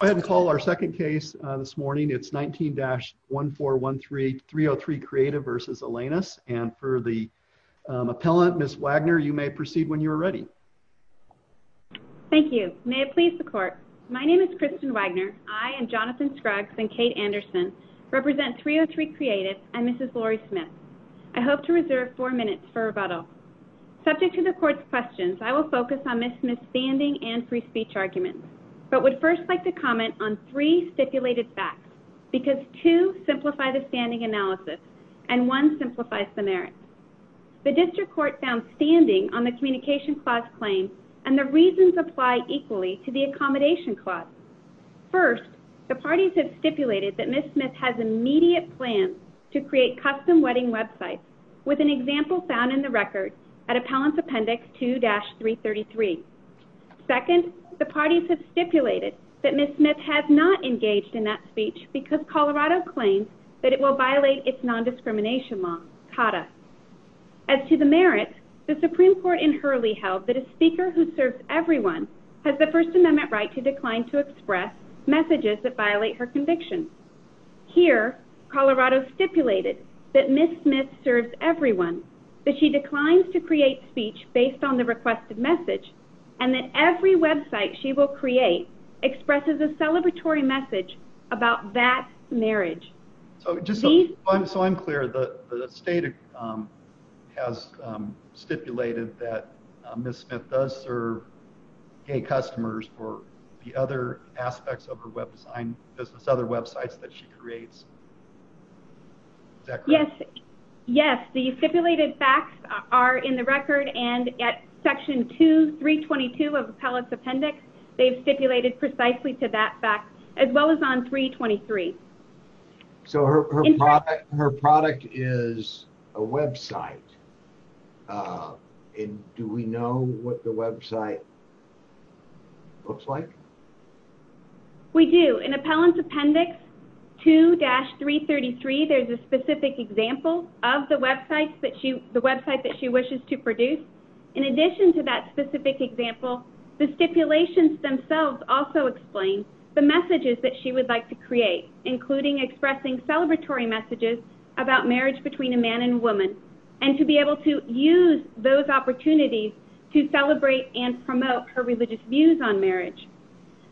I hope to reserve four minutes for rebuttal. Subject to the court's questions, I will focus on Ms. Smith's standing and free speech arguments, but would first like to comment on three stipulated facts because two simplify the standing analysis and one simplifies the merits. The district court found standing on the communication clause claim and the reasons apply equally to the accommodation clause. First, the parties have stipulated that Ms. Smith has immediate plans to create custom wedding websites with an example found in the record at appellant appendix 2-333. Second, the parties have stipulated that Ms. Smith has not engaged in that speech because Colorado claims that it will violate its nondiscrimination law. As to the merits, the Supreme Court in Hurley held that a speaker who serves everyone has the First Amendment right to decline to express messages that violate her conviction. Here, Colorado stipulated that Ms. Smith serves everyone, that she declines to create speech based on the requested message, and that every website she will create expresses a celebratory message about that marriage. So I'm clear. The state has stipulated that Ms. Smith does serve gay customers for the aspects of her website and other websites that she creates. Yes, the stipulated facts are in the record, and at section 2-322 of appellant's appendix, they've stipulated precisely to that fact, as well as on 323. So her product is a website. Do we know what the website looks like? We do. In appellant's appendix 2-333, there's a specific example of the website that she wishes to produce. In addition to that specific example, the stipulations themselves also explain the messages that she would like to create, including expressing celebratory messages about marriage between a man and a woman, and to be able to use those opportunities to celebrate and promote her religious views on marriage.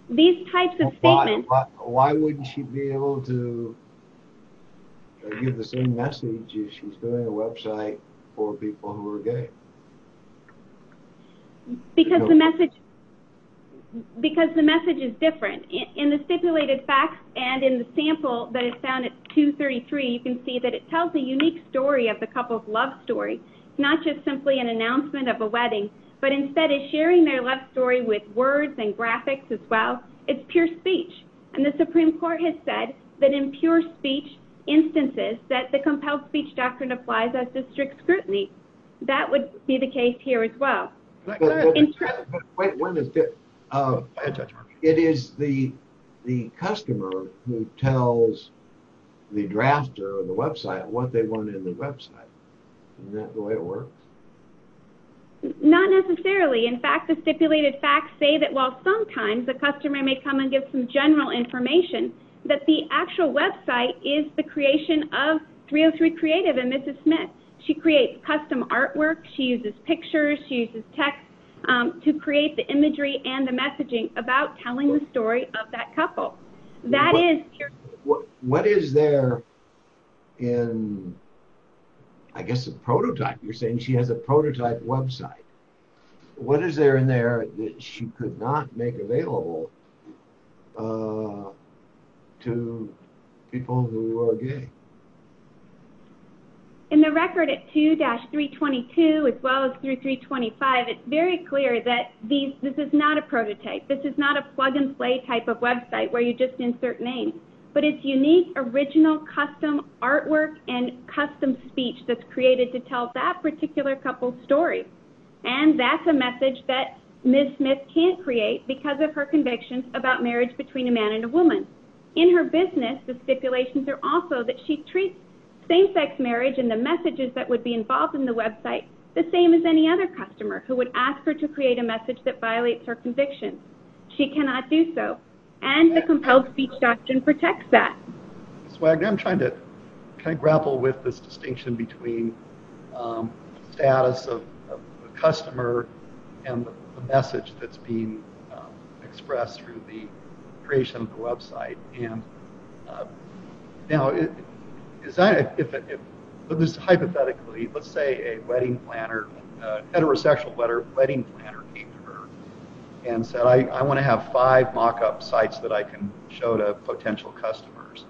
These types of statements... Why wouldn't she be able to give the same message if she was doing a website for people who are gay? Because the message is different. In the stipulated facts and in the sample that is found at 2-33, you can see that it tells a unique story of the couple's love story, not just simply an announcement of a wedding, but instead is sharing their love story with words and graphics as well. It's pure speech, and the Supreme Court has said that in pure speech instances that the compelled speech doctrine applies as district scrutiny. That would be the case here as well. But wait, one is different. It is the customer who tells the drafter of the website what they want in the website. Isn't that the way it works? Not necessarily. In fact, the stipulated facts say that while sometimes the customer may come and give some general information, that the actual website is the creation of 303 Creative and Mrs. Smith. She creates custom artwork, she uses pictures, she uses text to create the imagery and the messaging about telling the story of that couple. What is there in, I guess, a prototype? You're saying she has a prototype website. What is there in there that she could not make available to people who are gay? In the record at 2-322, as well as 3-325, it's very clear that this is not a prototype. This is not a plug-and-play type of website where you just insert names. But it's unique, original, custom artwork and custom speech that's created to tell that particular couple's story. That's a message that Mrs. Smith can't create because of her convictions about marriage between a man and a woman. In her business, the stipulations are also that she treats same-sex marriage and the messages that would be involved in the website the same as any other customer who would ask her to create a message that violates her convictions. She cannot do so. And the compelled speech doctrine protects that. I'm trying to grapple with this distinction between status of the customer and the message that's being expressed through the creation of the website. Hypothetically, let's say a heterosexual wedding planner came to her and said, I have five mock-up sites that I can show to potential customers.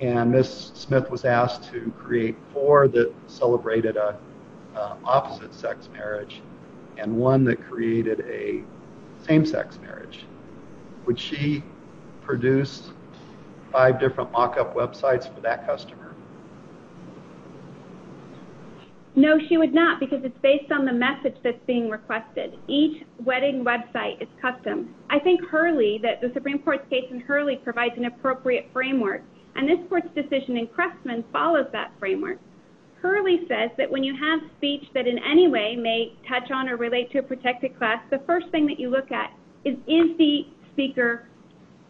And Mrs. Smith was asked to create four that celebrated an opposite-sex marriage and one that created a same-sex marriage. Would she produce five different mock-up websites for that customer? No, she would not because it's based on the message that's being requested. Each wedding website is custom. I think Hurley, that the Supreme Court's case in Hurley provides an appropriate framework. And this Court's decision in Crestman follows that framework. Hurley says that when you have speech that in any way may touch on or relate to a protected class, the first thing that you look at is, is the speaker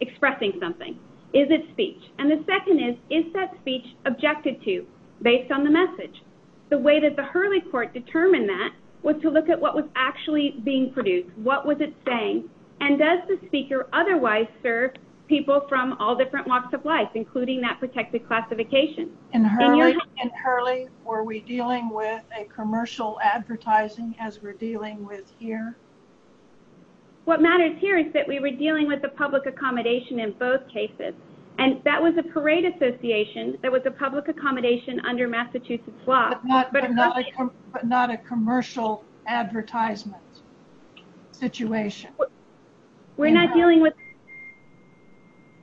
expressing something? Is it speech? And the second is, is that speech objected to based on the message? The way that the speech is being produced, what was it saying? And does the speaker otherwise serve people from all different walks of life, including that protected classification? In Hurley, were we dealing with a commercial advertising as we're dealing with here? What matters here is that we were dealing with the public accommodation in both cases. And that was a parade association that was a public accommodation under Massachusetts law. But not a commercial advertisement situation.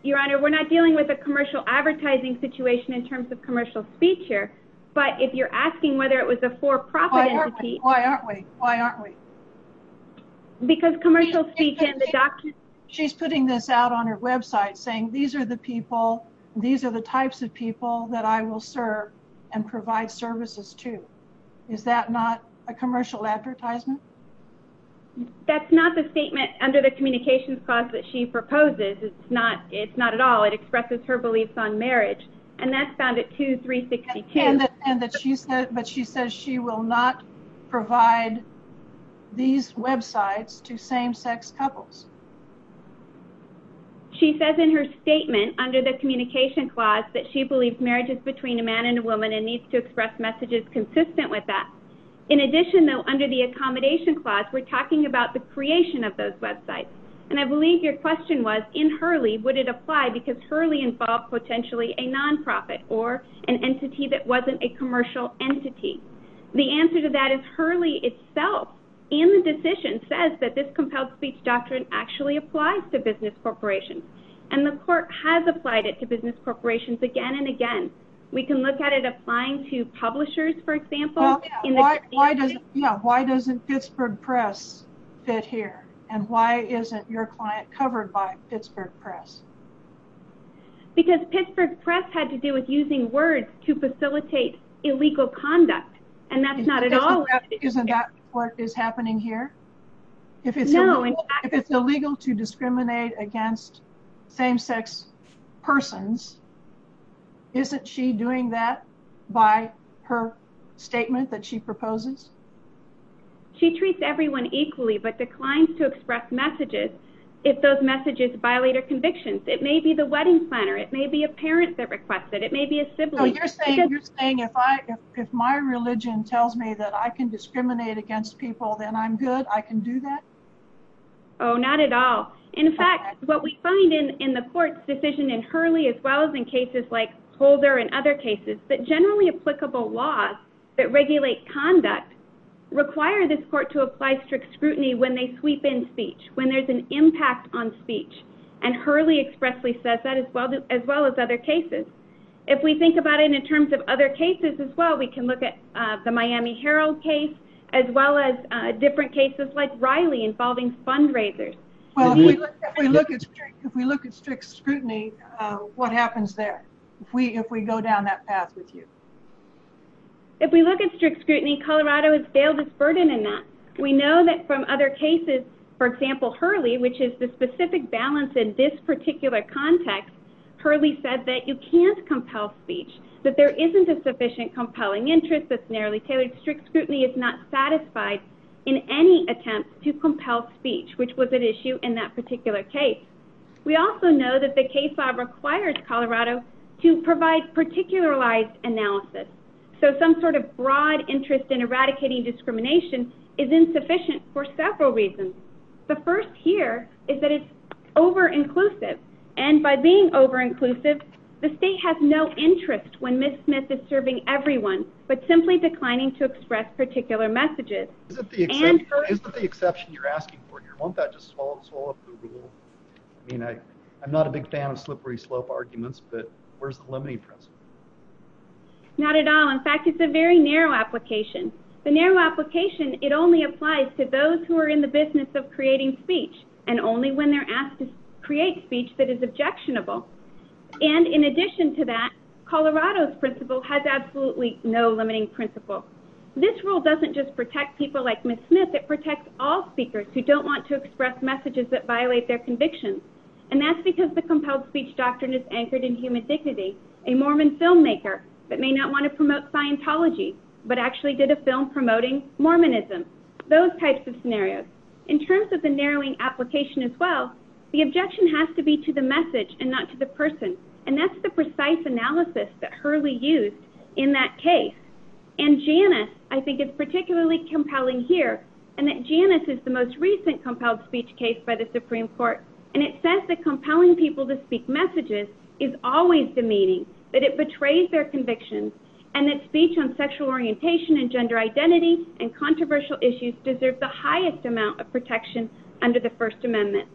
Your Honor, we're not dealing with a commercial advertising situation in terms of commercial speech here. But if you're asking whether it was a for-profit entity... Why aren't we? Why aren't we? Because commercial speech in the document... She's putting this out on her website saying, these are the people, these are the types of people that I will serve and provide services to. Is that not a commercial advertisement? That's not the statement under the communications clause that she proposes. It's not at all. It expresses her beliefs on marriage. And that's found at 2362. But she says she will not provide these websites to same-sex couples. She says in her statement under the communication clause that she believes marriage is between a man and a woman and needs to express messages consistent with that. In addition, though, under the accommodation clause, we're talking about the creation of those websites. And I believe your question was, in Hurley, would it apply because Hurley involved potentially a non-profit or an entity that wasn't a commercial entity. The answer to that is Hurley itself in the decision says that this compelled speech doctrine actually applies to business corporations. And the court has applied it to business corporations again and again. We can look at it applying to publishers, for example. Why doesn't Pittsburgh Press fit here? And why isn't your client covered by Pittsburgh Press? Because Pittsburgh Press had to do with using words to facilitate illegal conduct. And that's not at all. Isn't that what is happening here? If it's illegal to discriminate against same-sex persons, isn't she doing that by her statement that she proposes? She treats everyone equally but declines to express messages if those messages violate her convictions. It may be the wedding planner. It may be a parent that requests it. It may be a sibling. So you're saying if my religion tells me that I can discriminate against people, then I'm good? I can do that? Oh, not at all. In fact, what we find in the court's decision in Hurley as well as in cases like Holder and other cases, is that generally applicable laws that regulate conduct require this court to apply strict scrutiny when they sweep in speech, when there's an impact on speech. And Hurley expressly says that as well as other cases. If we think about it in terms of other cases as well, we can look at the Miami Herald case, as well as different cases like Riley involving fundraisers. If we look at strict scrutiny, what happens there if we go down that path with you? If we look at strict scrutiny, Colorado has failed its burden in that. We know that from other cases, for example, Hurley, which is the specific balance in this particular context, Hurley said that you can't compel speech, that there isn't a sufficient compelling interest that's narrowly tailored. So strict scrutiny is not satisfied in any attempt to compel speech, which was at issue in that particular case. We also know that the case law requires Colorado to provide particularized analysis. So some sort of broad interest in eradicating discrimination is insufficient for several reasons. The first here is that it's over-inclusive, and by being over-inclusive, the state has no interest when Ms. Smith is serving everyone, but simply declining to express particular messages. Isn't the exception you're asking for here, won't that just swallow up the rule? I mean, I'm not a big fan of slippery slope arguments, but where's the limiting principle? Not at all. In fact, it's a very narrow application. The narrow application, it only applies to those who are in the business of creating speech, and only when they're asked to create speech that is objectionable. And in addition to that, Colorado's principle has absolutely no limiting principle. This rule doesn't just protect people like Ms. Smith, it protects all speakers who don't want to express messages that violate their convictions. And that's because the compelled speech doctrine is anchored in human dignity. A Mormon filmmaker that may not want to promote Scientology, but actually did a film promoting Mormonism. Those types of scenarios. In terms of the narrowing application as well, the objection has to be to the message and not to the person. And that's the precise analysis that Hurley used in that case. And Janus, I think, is particularly compelling here, and that Janus is the most recent compelled speech case by the Supreme Court. And it says that compelling people to speak messages is always demeaning, that it betrays their convictions, and that speech on sexual orientation and gender identity and controversial issues deserves the highest amount of protection under the First Amendment.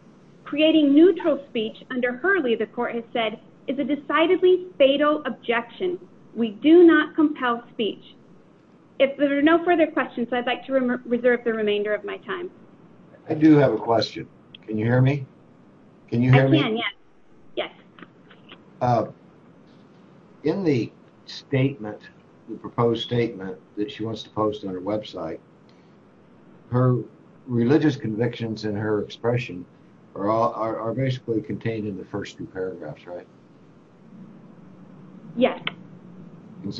Creating neutral speech under Hurley, the court has said, is a decidedly fatal objection. We do not compel speech. If there are no further questions, I'd like to reserve the remainder of my time. I do have a question. Can you hear me? I can, yes. In the statement, the proposed statement that she wants to post on her website, her religious convictions and her expression are basically contained in the first two paragraphs, right? Yes.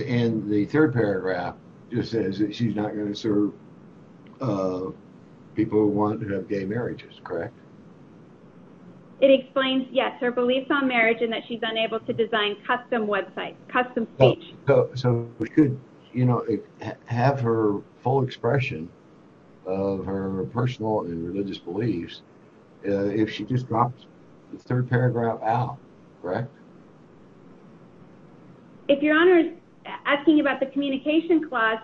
And the third paragraph just says that she's not going to serve people who want to have gay marriages, correct? It explains, yes, her beliefs on marriage and that she's unable to design custom websites, custom speech. So we could, you know, have her full expression of her personal and religious beliefs if she just drops the third paragraph out, correct? If Your Honor is asking about the communication clause...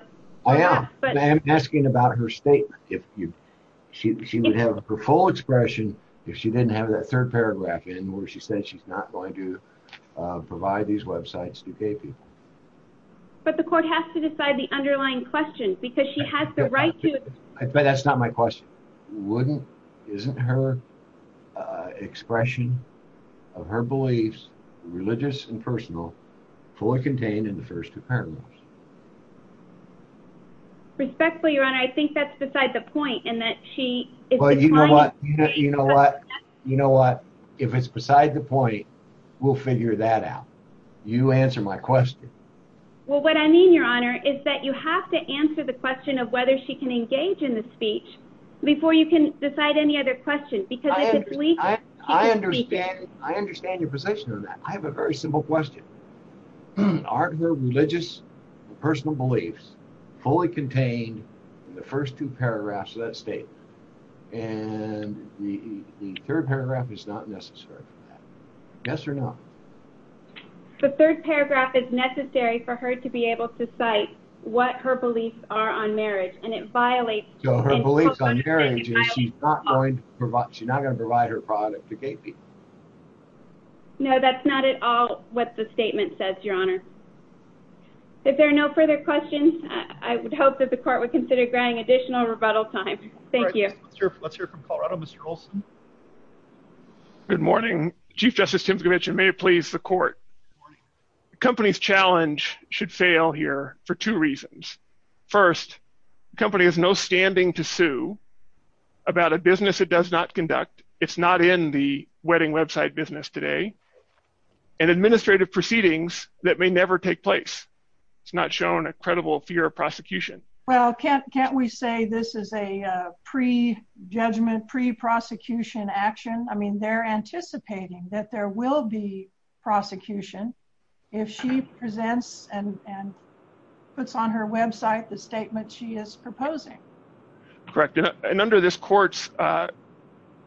I'm asking about her statement. She would have her full expression if she didn't have that third paragraph in where she said she's not going to provide these websites to gay people. But the court has to decide the underlying question because she has the right to... But that's not my question. Wouldn't, isn't her expression of her beliefs, religious and personal, fully contained in the first two paragraphs? Respectfully, Your Honor, I think that's beside the point in that she... But you know what, you know what, you know what? If it's beside the point, we'll figure that out. You answer my question. Well, what I mean, Your Honor, is that you have to answer the question of whether she can engage in the speech before you can decide any other questions. I understand, I understand your position on that. I have a very simple question. Aren't her religious and personal beliefs fully contained in the first two paragraphs of that statement? And the third paragraph is not necessary for that. Yes or no? The third paragraph is necessary for her to be able to cite what her beliefs are on marriage, and it violates... So her beliefs on marriage is she's not going to provide her product to gay people. No, that's not at all what the statement says, Your Honor. If there are no further questions, I would hope that the court would consider granting additional rebuttal time. Thank you. Let's hear from Colorado, Mr. Olson. Good morning. Chief Justice Tinsley-Mitchell, may it please the court. The company's challenge should fail here for two reasons. First, the company has no standing to sue about a business it does not conduct. It's not in the wedding website business today, and administrative proceedings that may never take place. It's not shown a credible fear of prosecution. Well, can't we say this is a pre-judgment, pre-prosecution action? I mean, they're anticipating that there will be prosecution if she presents and puts on her website the statement she is proposing. Correct. And under this court's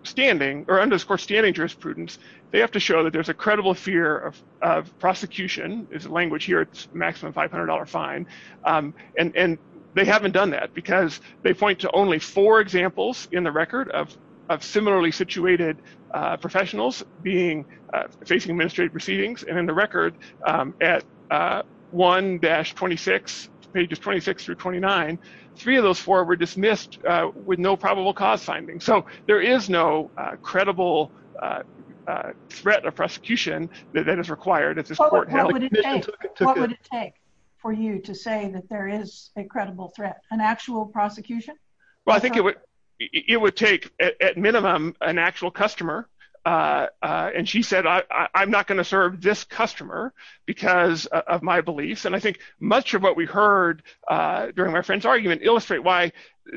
standing, or under this court's standing jurisprudence, they have to show that there's a credible fear of prosecution. It's a language here. It's maximum $500 fine. And they haven't done that because they point to only four examples in the record of similarly situated professionals being facing administrative proceedings. And in the record at 1-26, pages 26 through 29, three of those four were dismissed with no probable cause finding. So there is no credible threat of prosecution that is required. What would it take for you to say that there is a credible threat, an actual prosecution? Well, I think it would take at minimum an actual customer. And she said, I'm not going to serve this customer because of my beliefs. And I think much of what we heard during my friend's argument illustrate why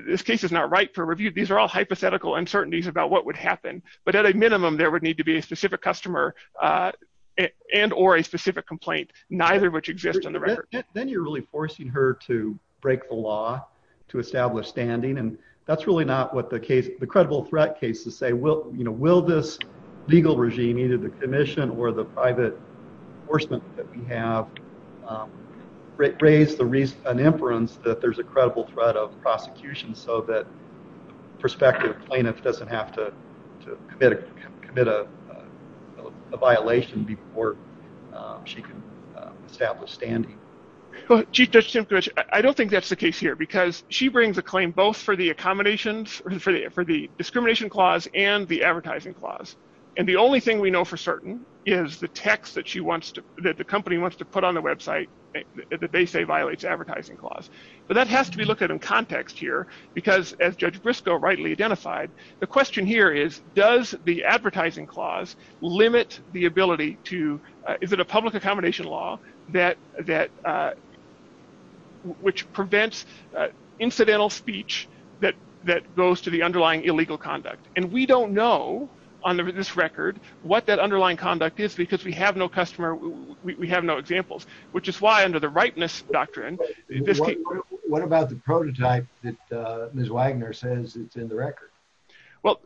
this case is not right for review. These are all hypothetical uncertainties about what would happen. But at a minimum, there would need to be a specific customer and or a specific complaint, neither of which exist in the record. Then you're really forcing her to break the law to establish standing. And that's really not what the case, the credible threat case to say, will this legal regime, either the commission or the private enforcement that we have, raise an inference that there's a credible threat of prosecution so that prospective plaintiff doesn't have to commit a violation before she can establish standing. Chief Judge, I don't think that's the case here because she brings a claim both for the accommodations for the for the discrimination clause and the advertising clause. And the only thing we know for certain is the text that she wants to that the company wants to put on the website that they say violates advertising clause. But that has to be looked at in context here, because as Judge Briscoe rightly identified, the question here is, does the advertising clause limit the ability to, is it a public accommodation law that that which prevents incidental speech that that goes to the underlying illegal conduct. And we don't know on this record what that underlying conduct is because we have no customer. We have no examples, which is why under the rightness doctrine. What about the prototype that Ms. Wagner says it's in the record. Well,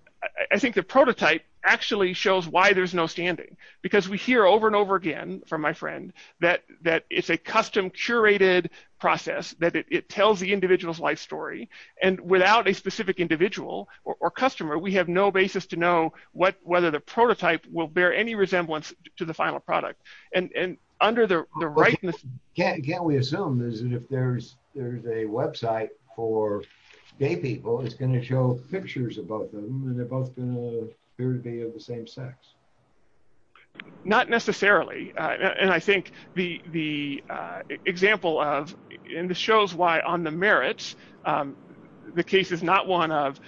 I think the prototype actually shows why there's no standing, because we hear over and over again from my friend that that it's a custom curated process that it tells the individual's life story. And without a specific individual or customer, we have no basis to know what whether the prototype will bear any resemblance to the final product. And under the rightness Can we assume is that if there's, there's a website for gay people is going to show pictures about them and they're both going to be of the same sex. Not necessarily. And I think the, the example of in the shows why on the merits. The case is not one of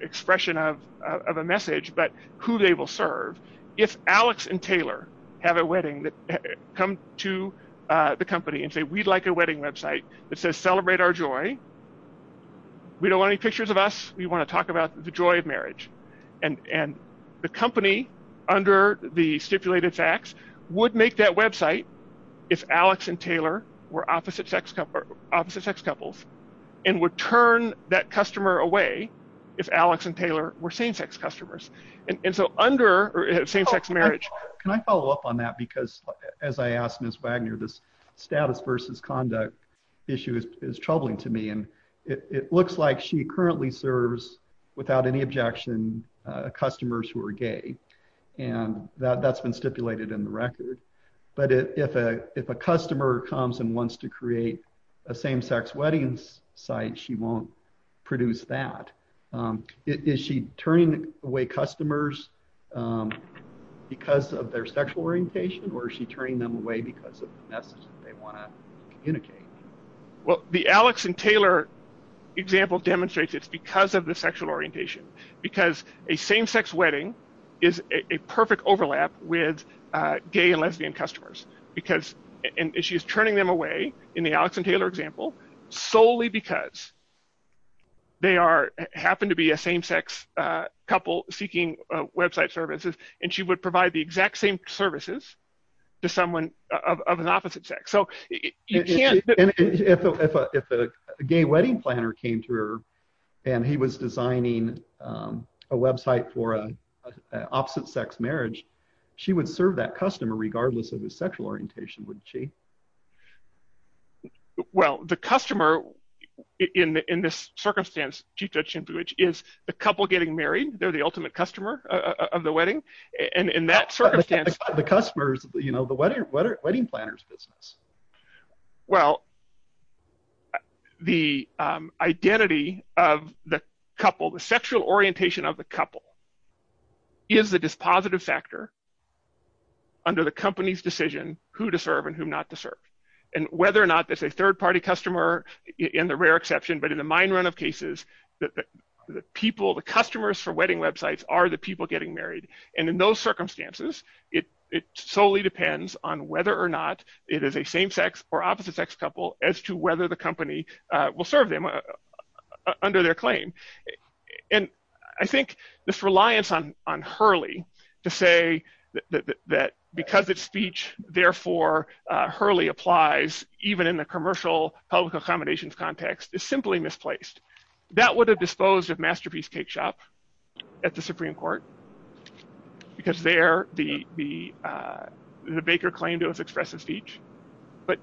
expression of a message, but who they will serve if Alex and Taylor have a wedding that come to the company and say we'd like a wedding website that says celebrate our joy. We don't want any pictures of us. We want to talk about the joy of marriage and and the company under the stipulated facts would make that website. If Alex and Taylor were opposite sex couple opposite sex couples and would turn that customer away if Alex and Taylor were same sex customers and so under same sex marriage. Can I follow up on that because as I asked Miss Wagner this status versus conduct issue is troubling to me and it looks like she currently serves without any objection. Customers who are gay and that that's been stipulated in the record, but if a if a customer comes and wants to create a same sex weddings site. She won't produce that is she turning away customers. Because of their sexual orientation or she turning them away because of the message they want to communicate. Well, the Alex and Taylor example demonstrates it's because of the sexual orientation, because a same sex wedding is a perfect overlap with gay and lesbian customers because an issue is turning them away in the Alex and Taylor example solely because They are happen to be a same sex couple seeking website services and she would provide the exact same services to someone of an opposite sex. So If a gay wedding planner came to her and he was designing a website for an opposite sex marriage. She would serve that customer, regardless of his sexual orientation, would she Well, the customer in this circumstance. She touched him, which is a couple getting married. They're the ultimate customer of the wedding and in that circumstance, the customers, you know, the wedding, wedding planners business. Well, The identity of the couple, the sexual orientation of the couple. Is the dispositive factor. Under the company's decision who to serve and who not to serve and whether or not that's a third party customer in the rare exception, but in the mine run of cases that The people, the customers for wedding websites are the people getting married and in those circumstances, it, it solely depends on whether or not it is a same sex or opposite sex couple as to whether the company will serve them. Under their claim. And I think this reliance on on Hurley to say that because it's speech. Therefore, Hurley applies, even in the commercial public accommodations context is simply misplaced that would have disposed of masterpiece cake shop at the Supreme Court. Because there, the, the, the Baker claim to express a speech. But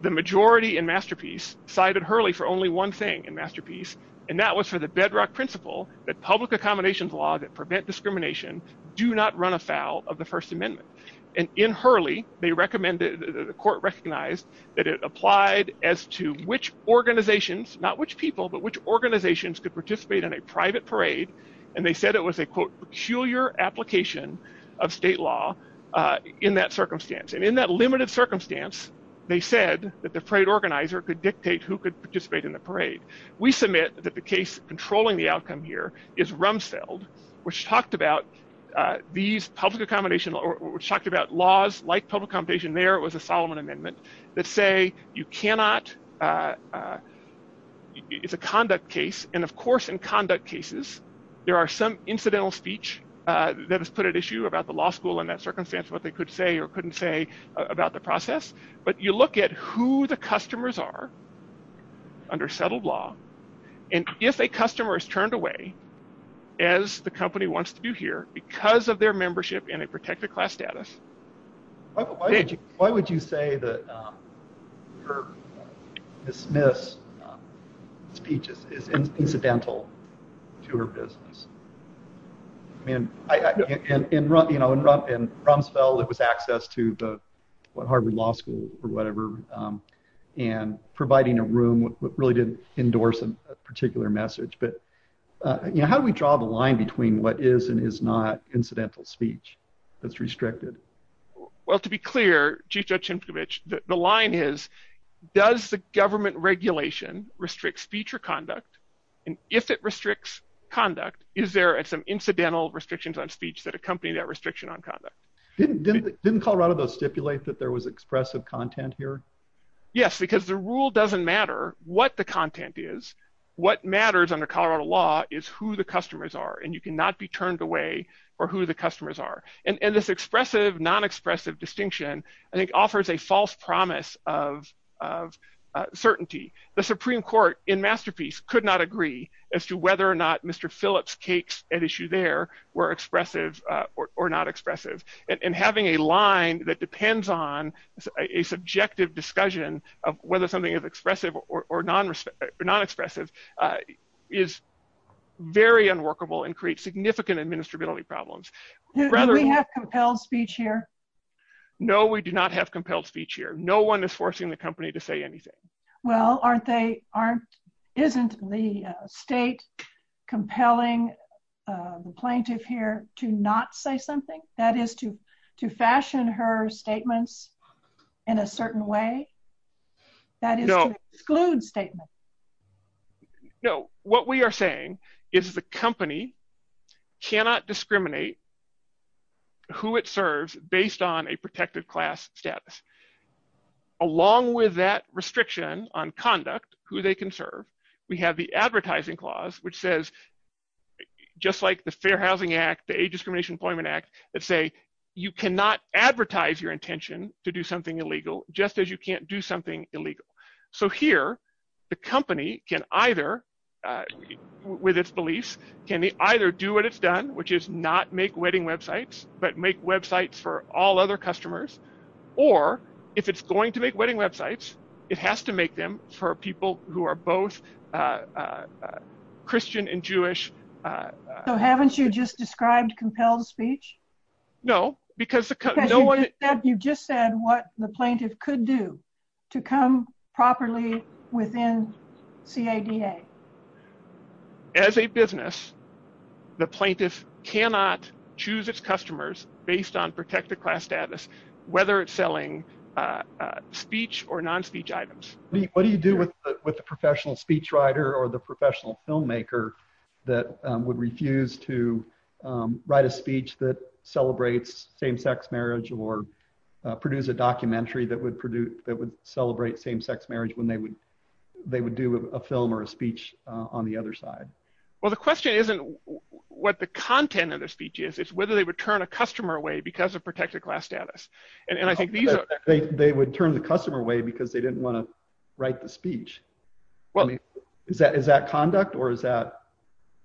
the majority and masterpiece cited Hurley for only one thing and masterpiece. And that was for the bedrock principle that public accommodations law that prevent discrimination, do not run afoul of the First Amendment. And in Hurley, they recommended the court recognized that it applied as to which organizations, not which people, but which organizations could participate in a private parade. And they said it was a quote peculiar application of state law in that circumstance. And in that limited circumstance. They said that the parade organizer could dictate who could participate in the parade. We submit that the case controlling the outcome here is rumselled which talked about these public accommodation or talked about laws like public competition there was a Solomon amendment that say you cannot It's a conduct case. And of course, in conduct cases, there are some incidental speech that has put at issue about the law school in that circumstance, what they could say or couldn't say about the process, but you look at who the customers are Under settled law. And if a customer is turned away as the company wants to do here because of their membership in a protected class status. Why would you say that Dismiss Speeches is incidental to her business. I mean, I can run, you know, in Rumsfeld, it was access to the Harvard Law School or whatever and providing a room with really didn't endorse a particular message. But, you know, how do we draw the line between what is and is not incidental speech that's restricted Well, to be clear. The line is, does the government regulation restrict speech or conduct and if it restricts conduct. Is there at some incidental restrictions on speech that accompany that restriction on conduct. Didn't didn't didn't Colorado those stipulate that there was expressive content here. Yes, because the rule doesn't matter what the content is what matters under Colorado law is who the customers are and you cannot be turned away. Or who the customers are and this expressive non expressive distinction. I think offers a false promise of Certainty, the Supreme Court in masterpiece could not agree as to whether or not Mr. Phillips cakes and issue there were expressive or not expressive and having a line that depends on a subjective discussion of whether something is expressive or non non expressive is very unworkable and create significant administrative problems. Compelled speech here. No, we do not have compelled speech here. No one is forcing the company to say anything. Well, aren't they aren't isn't the state compelling plaintiff here to not say something that is to to fashion her statements in a certain way. That is exclude statement. No, what we are saying is the company cannot discriminate Who it serves based on a protective class status. Along with that restriction on conduct, who they can serve. We have the advertising clause which says Just like the Fair Housing Act, the discrimination employment act that say you cannot advertise your intention to do something illegal, just as you can't do something illegal. So here the company can either With its beliefs can either do what it's done, which is not make wedding websites, but make websites for all other customers or if it's going to make wedding websites. It has to make them for people who are both Christian and Jewish. So haven't you just described compelled speech. No, because the You just said what the plaintiff could do to come properly within see a DA As a business, the plaintiff cannot choose its customers based on protected class status, whether it's selling Speech or non speech items. What do you do with with the professional speech writer or the professional filmmaker that would refuse to write a speech that celebrates same sex marriage or Produce a documentary that would produce that would celebrate same sex marriage when they would they would do a film or a speech on the other side. Well, the question isn't what the content of the speech is it's whether they would turn a customer away because of protected class status and I think these They would turn the customer way because they didn't want to write the speech. Well, I mean, is that is that conduct or is that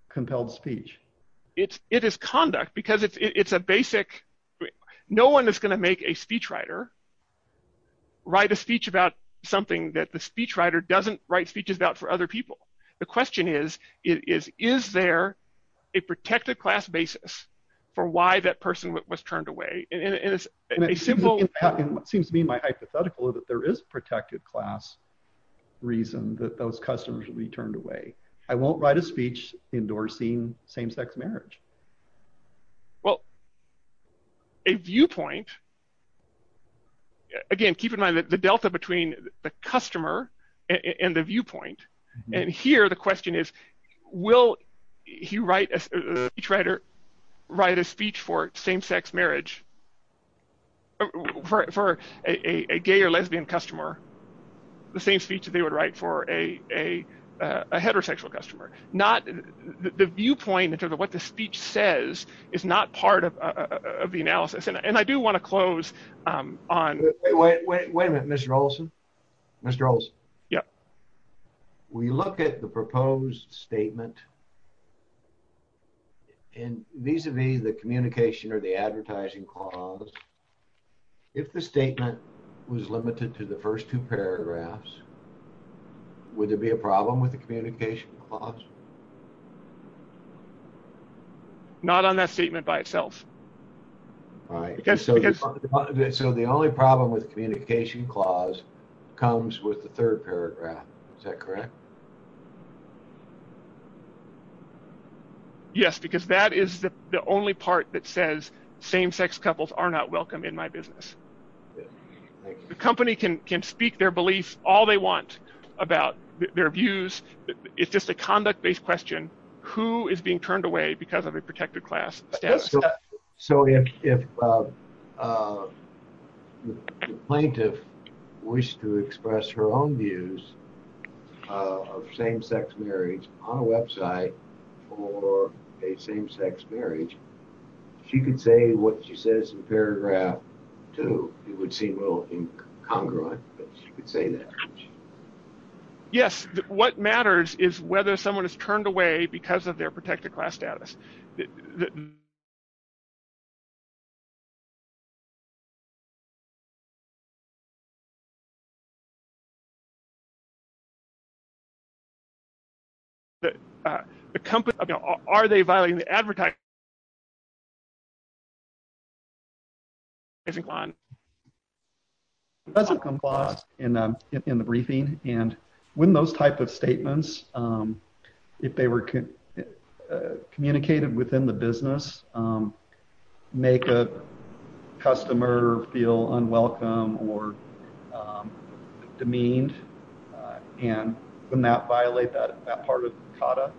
compelled speech. It's it is conduct because it's a basic no one is going to make a speech writer. Write a speech about something that the speech writer doesn't write speeches about for other people. The question is, is, is there a protected class basis for why that person was turned away in a simple Seems to be my hypothetical that there is protected class reason that those customers will be turned away. I won't write a speech endorsing same sex marriage. Well, A viewpoint. Again, keep in mind that the delta between the customer and the viewpoint. And here, the question is, will he write a writer write a speech for same sex marriage. For a gay or lesbian customer the same speech that they would write for a heterosexual customer not the viewpoint in terms of what the speech says is not part of the analysis and I do want to close Wait, wait, wait, Mr. Olson. Mr. Olson. Yeah. We look at the proposed statement. And these are the the communication or the advertising clause. If the statement was limited to the first two paragraphs. Would there be a problem with the communication. Not on that statement by itself. Right. So the only problem with communication clause comes with the third paragraph. Is that correct, Yes, because that is the only part that says same sex couples are not welcome in my business. The company can can speak their beliefs, all they want about their views. It's just a conduct based question, who is being turned away because of a protected class. So if Plaintiff wish to express her own views. Of same sex marriage on a website or a same sex marriage. She could say what she says in paragraph two, it would seem a little incongruent, but you could say that Yes, what matters is whether someone is turned away because of their protected class status. The company. Are they violating the advertising. Isn't gone. In the briefing and when those type of statements. If they were Communicated within the business. Make a customer feel unwelcome or demeaned. And when that violate that that part of Kata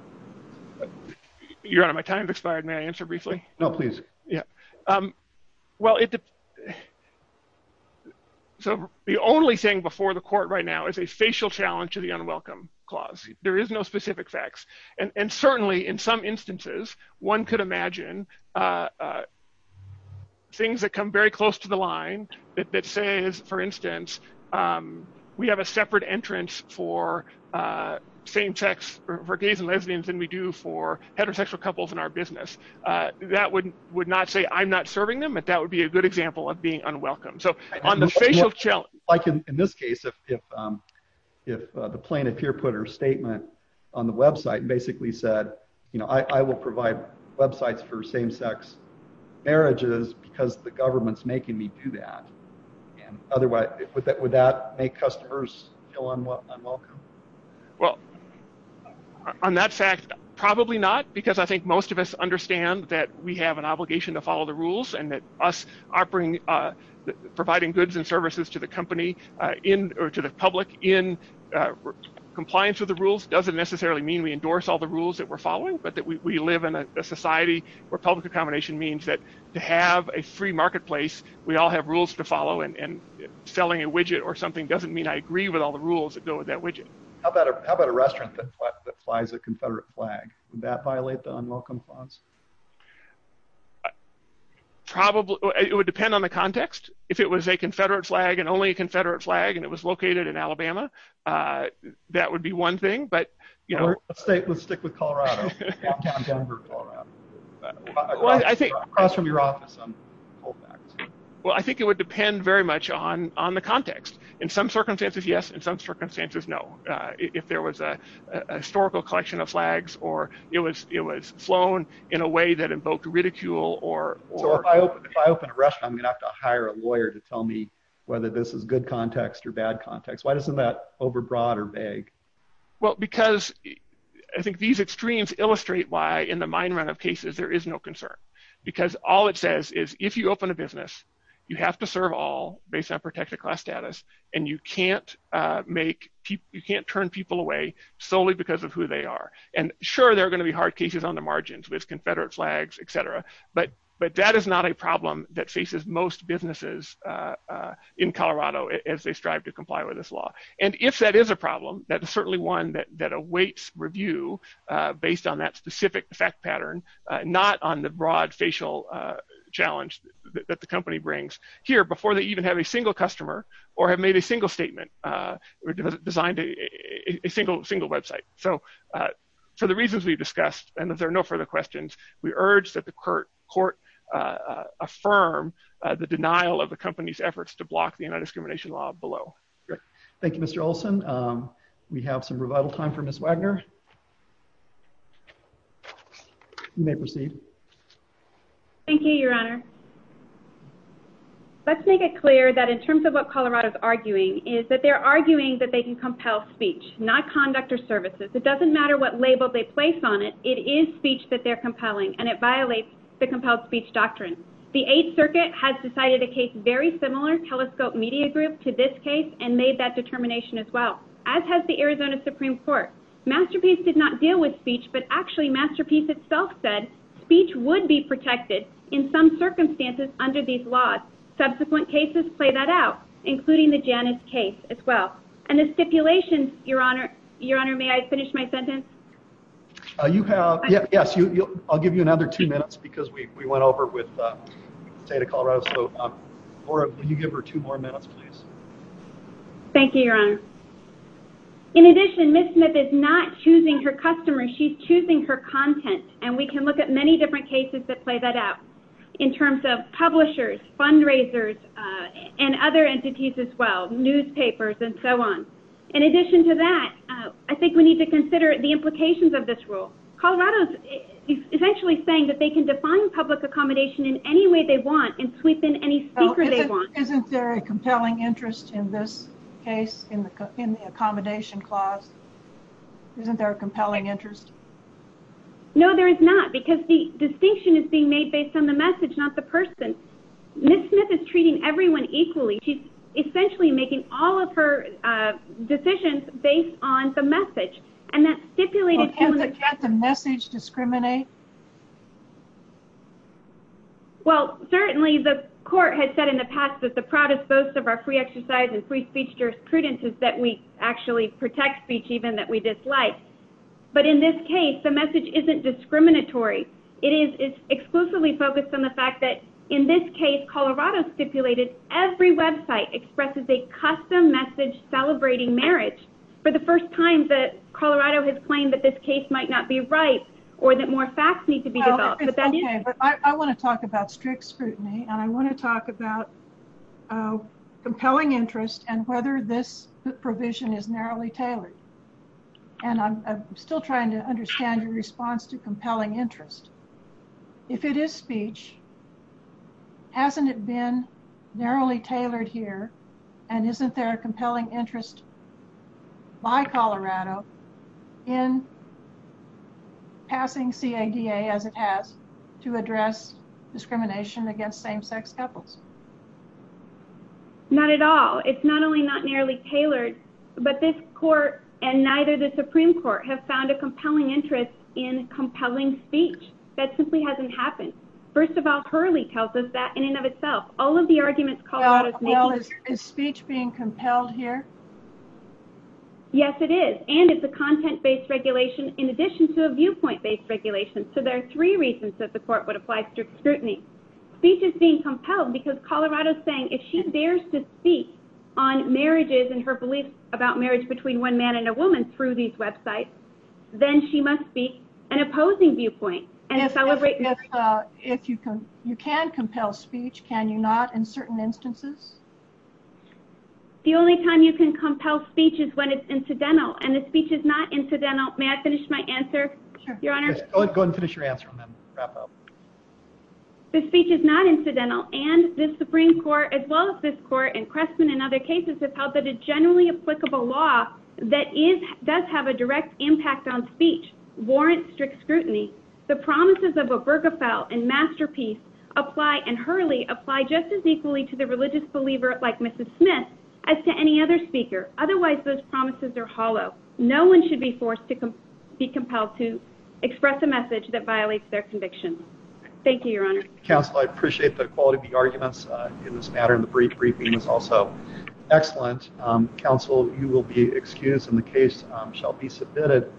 You're out of my time expired. May I answer briefly. No, please. Yeah. Well, it So the only thing before the court right now is a facial challenge to the unwelcome clause, there is no specific facts and certainly in some instances, one could imagine Things that come very close to the line that says, for instance, We have a separate entrance for same sex for gays and lesbians and we do for heterosexual couples in our business that wouldn't would not say I'm not serving them, but that would be a good example of being unwelcome. So on the facial Like in this case if If the plaintiff here put her statement on the website basically said, you know, I will provide websites for same sex marriages, because the government's making me do that. And otherwise, would that would that make customers feel unwelcome. Well, On that fact, probably not because I think most of us understand that we have an obligation to follow the rules and that us offering Providing goods and services to the company in or to the public in Compliance with the rules doesn't necessarily mean we endorse all the rules that we're following, but that we live in a society where public accommodation means that To have a free marketplace. We all have rules to follow and selling a widget or something doesn't mean I agree with all the rules that go with that widget. How about, how about a restaurant that flies a confederate flag that violate the unwelcome clause. Probably, it would depend on the context. If it was a confederate flag and only confederate flag and it was located in Alabama. That would be one thing, but you know State would stick with Colorado. I think From your office. Well, I think it would depend very much on on the context. In some circumstances, yes. In some circumstances, no. If there was a historical collection of flags or it was it was flown in a way that invoked ridicule or I'm gonna have to hire a lawyer to tell me whether this is good context or bad context. Why doesn't that over broader bag. Well, because I think these extremes illustrate why in the mind run of cases, there is no concern. Because all it says is if you open a business, you have to serve all based on protected class status and you can't Make people you can't turn people away solely because of who they are. And sure, they're going to be hard cases on the margins with confederate flags, etc. But, but that is not a problem that faces most businesses. In Colorado, as they strive to comply with this law. And if that is a problem that is certainly one that that awaits review. Based on that specific fact pattern, not on the broad facial challenge that the company brings here before they even have a single customer or have made a single statement. Designed a single, single website. So for the reasons we've discussed, and if there are no further questions, we urge that the court court affirm the denial of the company's efforts to block the discrimination law below. Thank you, Mr. Olson. We have some revital time for Miss Wagner. May proceed. Thank you, Your Honor. Let's make it clear that in terms of what Colorado is arguing is that they're arguing that they can compel speech not conduct or services. It doesn't matter what label they place on it. It is speech that they're compelling and it violates The compelled speech doctrine. The Eighth Circuit has decided a case very similar telescope media group to this case and made that determination as well as has the Arizona Supreme Court. Masterpiece did not deal with speech, but actually masterpiece itself said speech would be protected in some circumstances under these laws subsequent cases play that out, including the Janice case as well. And the stipulations, Your Honor, Your Honor. May I finish my sentence. Yes, you I'll give you another two minutes because we went over with say to Colorado. So, or you give her two more minutes, please. Thank you, Your Honor. In addition, Miss Smith is not choosing her customer. She's choosing her content and we can look at many different cases that play that out in terms of publishers fundraisers And other entities as well newspapers and so on. In addition to that, I think we need to consider the implications of this rule Colorado's Saying that they can define public accommodation in any way they want and sweep in any Isn't there a compelling interest in this case in the in the accommodation clause. Isn't there a compelling interest. No, there is not because the distinction is being made based on the message, not the person. Miss Smith is treating everyone equally. She's essentially making all of her decisions based on the message and that stipulated Can't the message discriminate Well, certainly the court has said in the past that the proudest boast of our free exercise and free speech jurisprudence is that we actually protect speech, even that we dislike. But in this case, the message isn't discriminatory. It is exclusively focused on the fact that in this case Colorado stipulated every website expresses a custom message celebrating marriage. For the first time that Colorado has claimed that this case might not be right or that more facts need to be I want to talk about strict scrutiny and I want to talk about Compelling interest and whether this provision is narrowly tailored And I'm still trying to understand your response to compelling interest. If it is speech. Hasn't it been narrowly tailored here and isn't there a compelling interest. By Colorado in Passing see a DA as it has to address discrimination against same sex couples. Not at all. It's not only not nearly tailored, but this court and neither the Supreme Court have found a compelling interest in compelling speech that simply hasn't happened. First of all, Hurley tells us that in and of itself, all of the arguments. Is speech being compelled here. Yes, it is. And it's a content based regulation. In addition to a viewpoint based regulation. So there are three reasons that the court would apply strict scrutiny. Speech is being compelled because Colorado saying if she dares to speak on marriages and her belief about marriage between one man and a woman through these websites, then she must be an opposing viewpoint and If you can you can compel speech. Can you not in certain instances. The only time you can compel speeches when it's incidental and the speech is not incidental. May I finish my answer. Go and finish your answer. The speech is not incidental and the Supreme Court, as well as this court and Crestman and other cases have held that a generally applicable law that is does have a direct impact on speech warrant strict scrutiny. The promises of a burger fell and masterpiece apply and Hurley apply justice equally to the religious believer like Mrs. Smith. As to any other speaker. Otherwise, those promises are hollow. No one should be forced to be compelled to express a message that violates their conviction. Thank you, Your Honor. Counsel, I appreciate the quality of the arguments in this matter in the brief briefing is also excellent counsel, you will be excused in the case shall be submitted.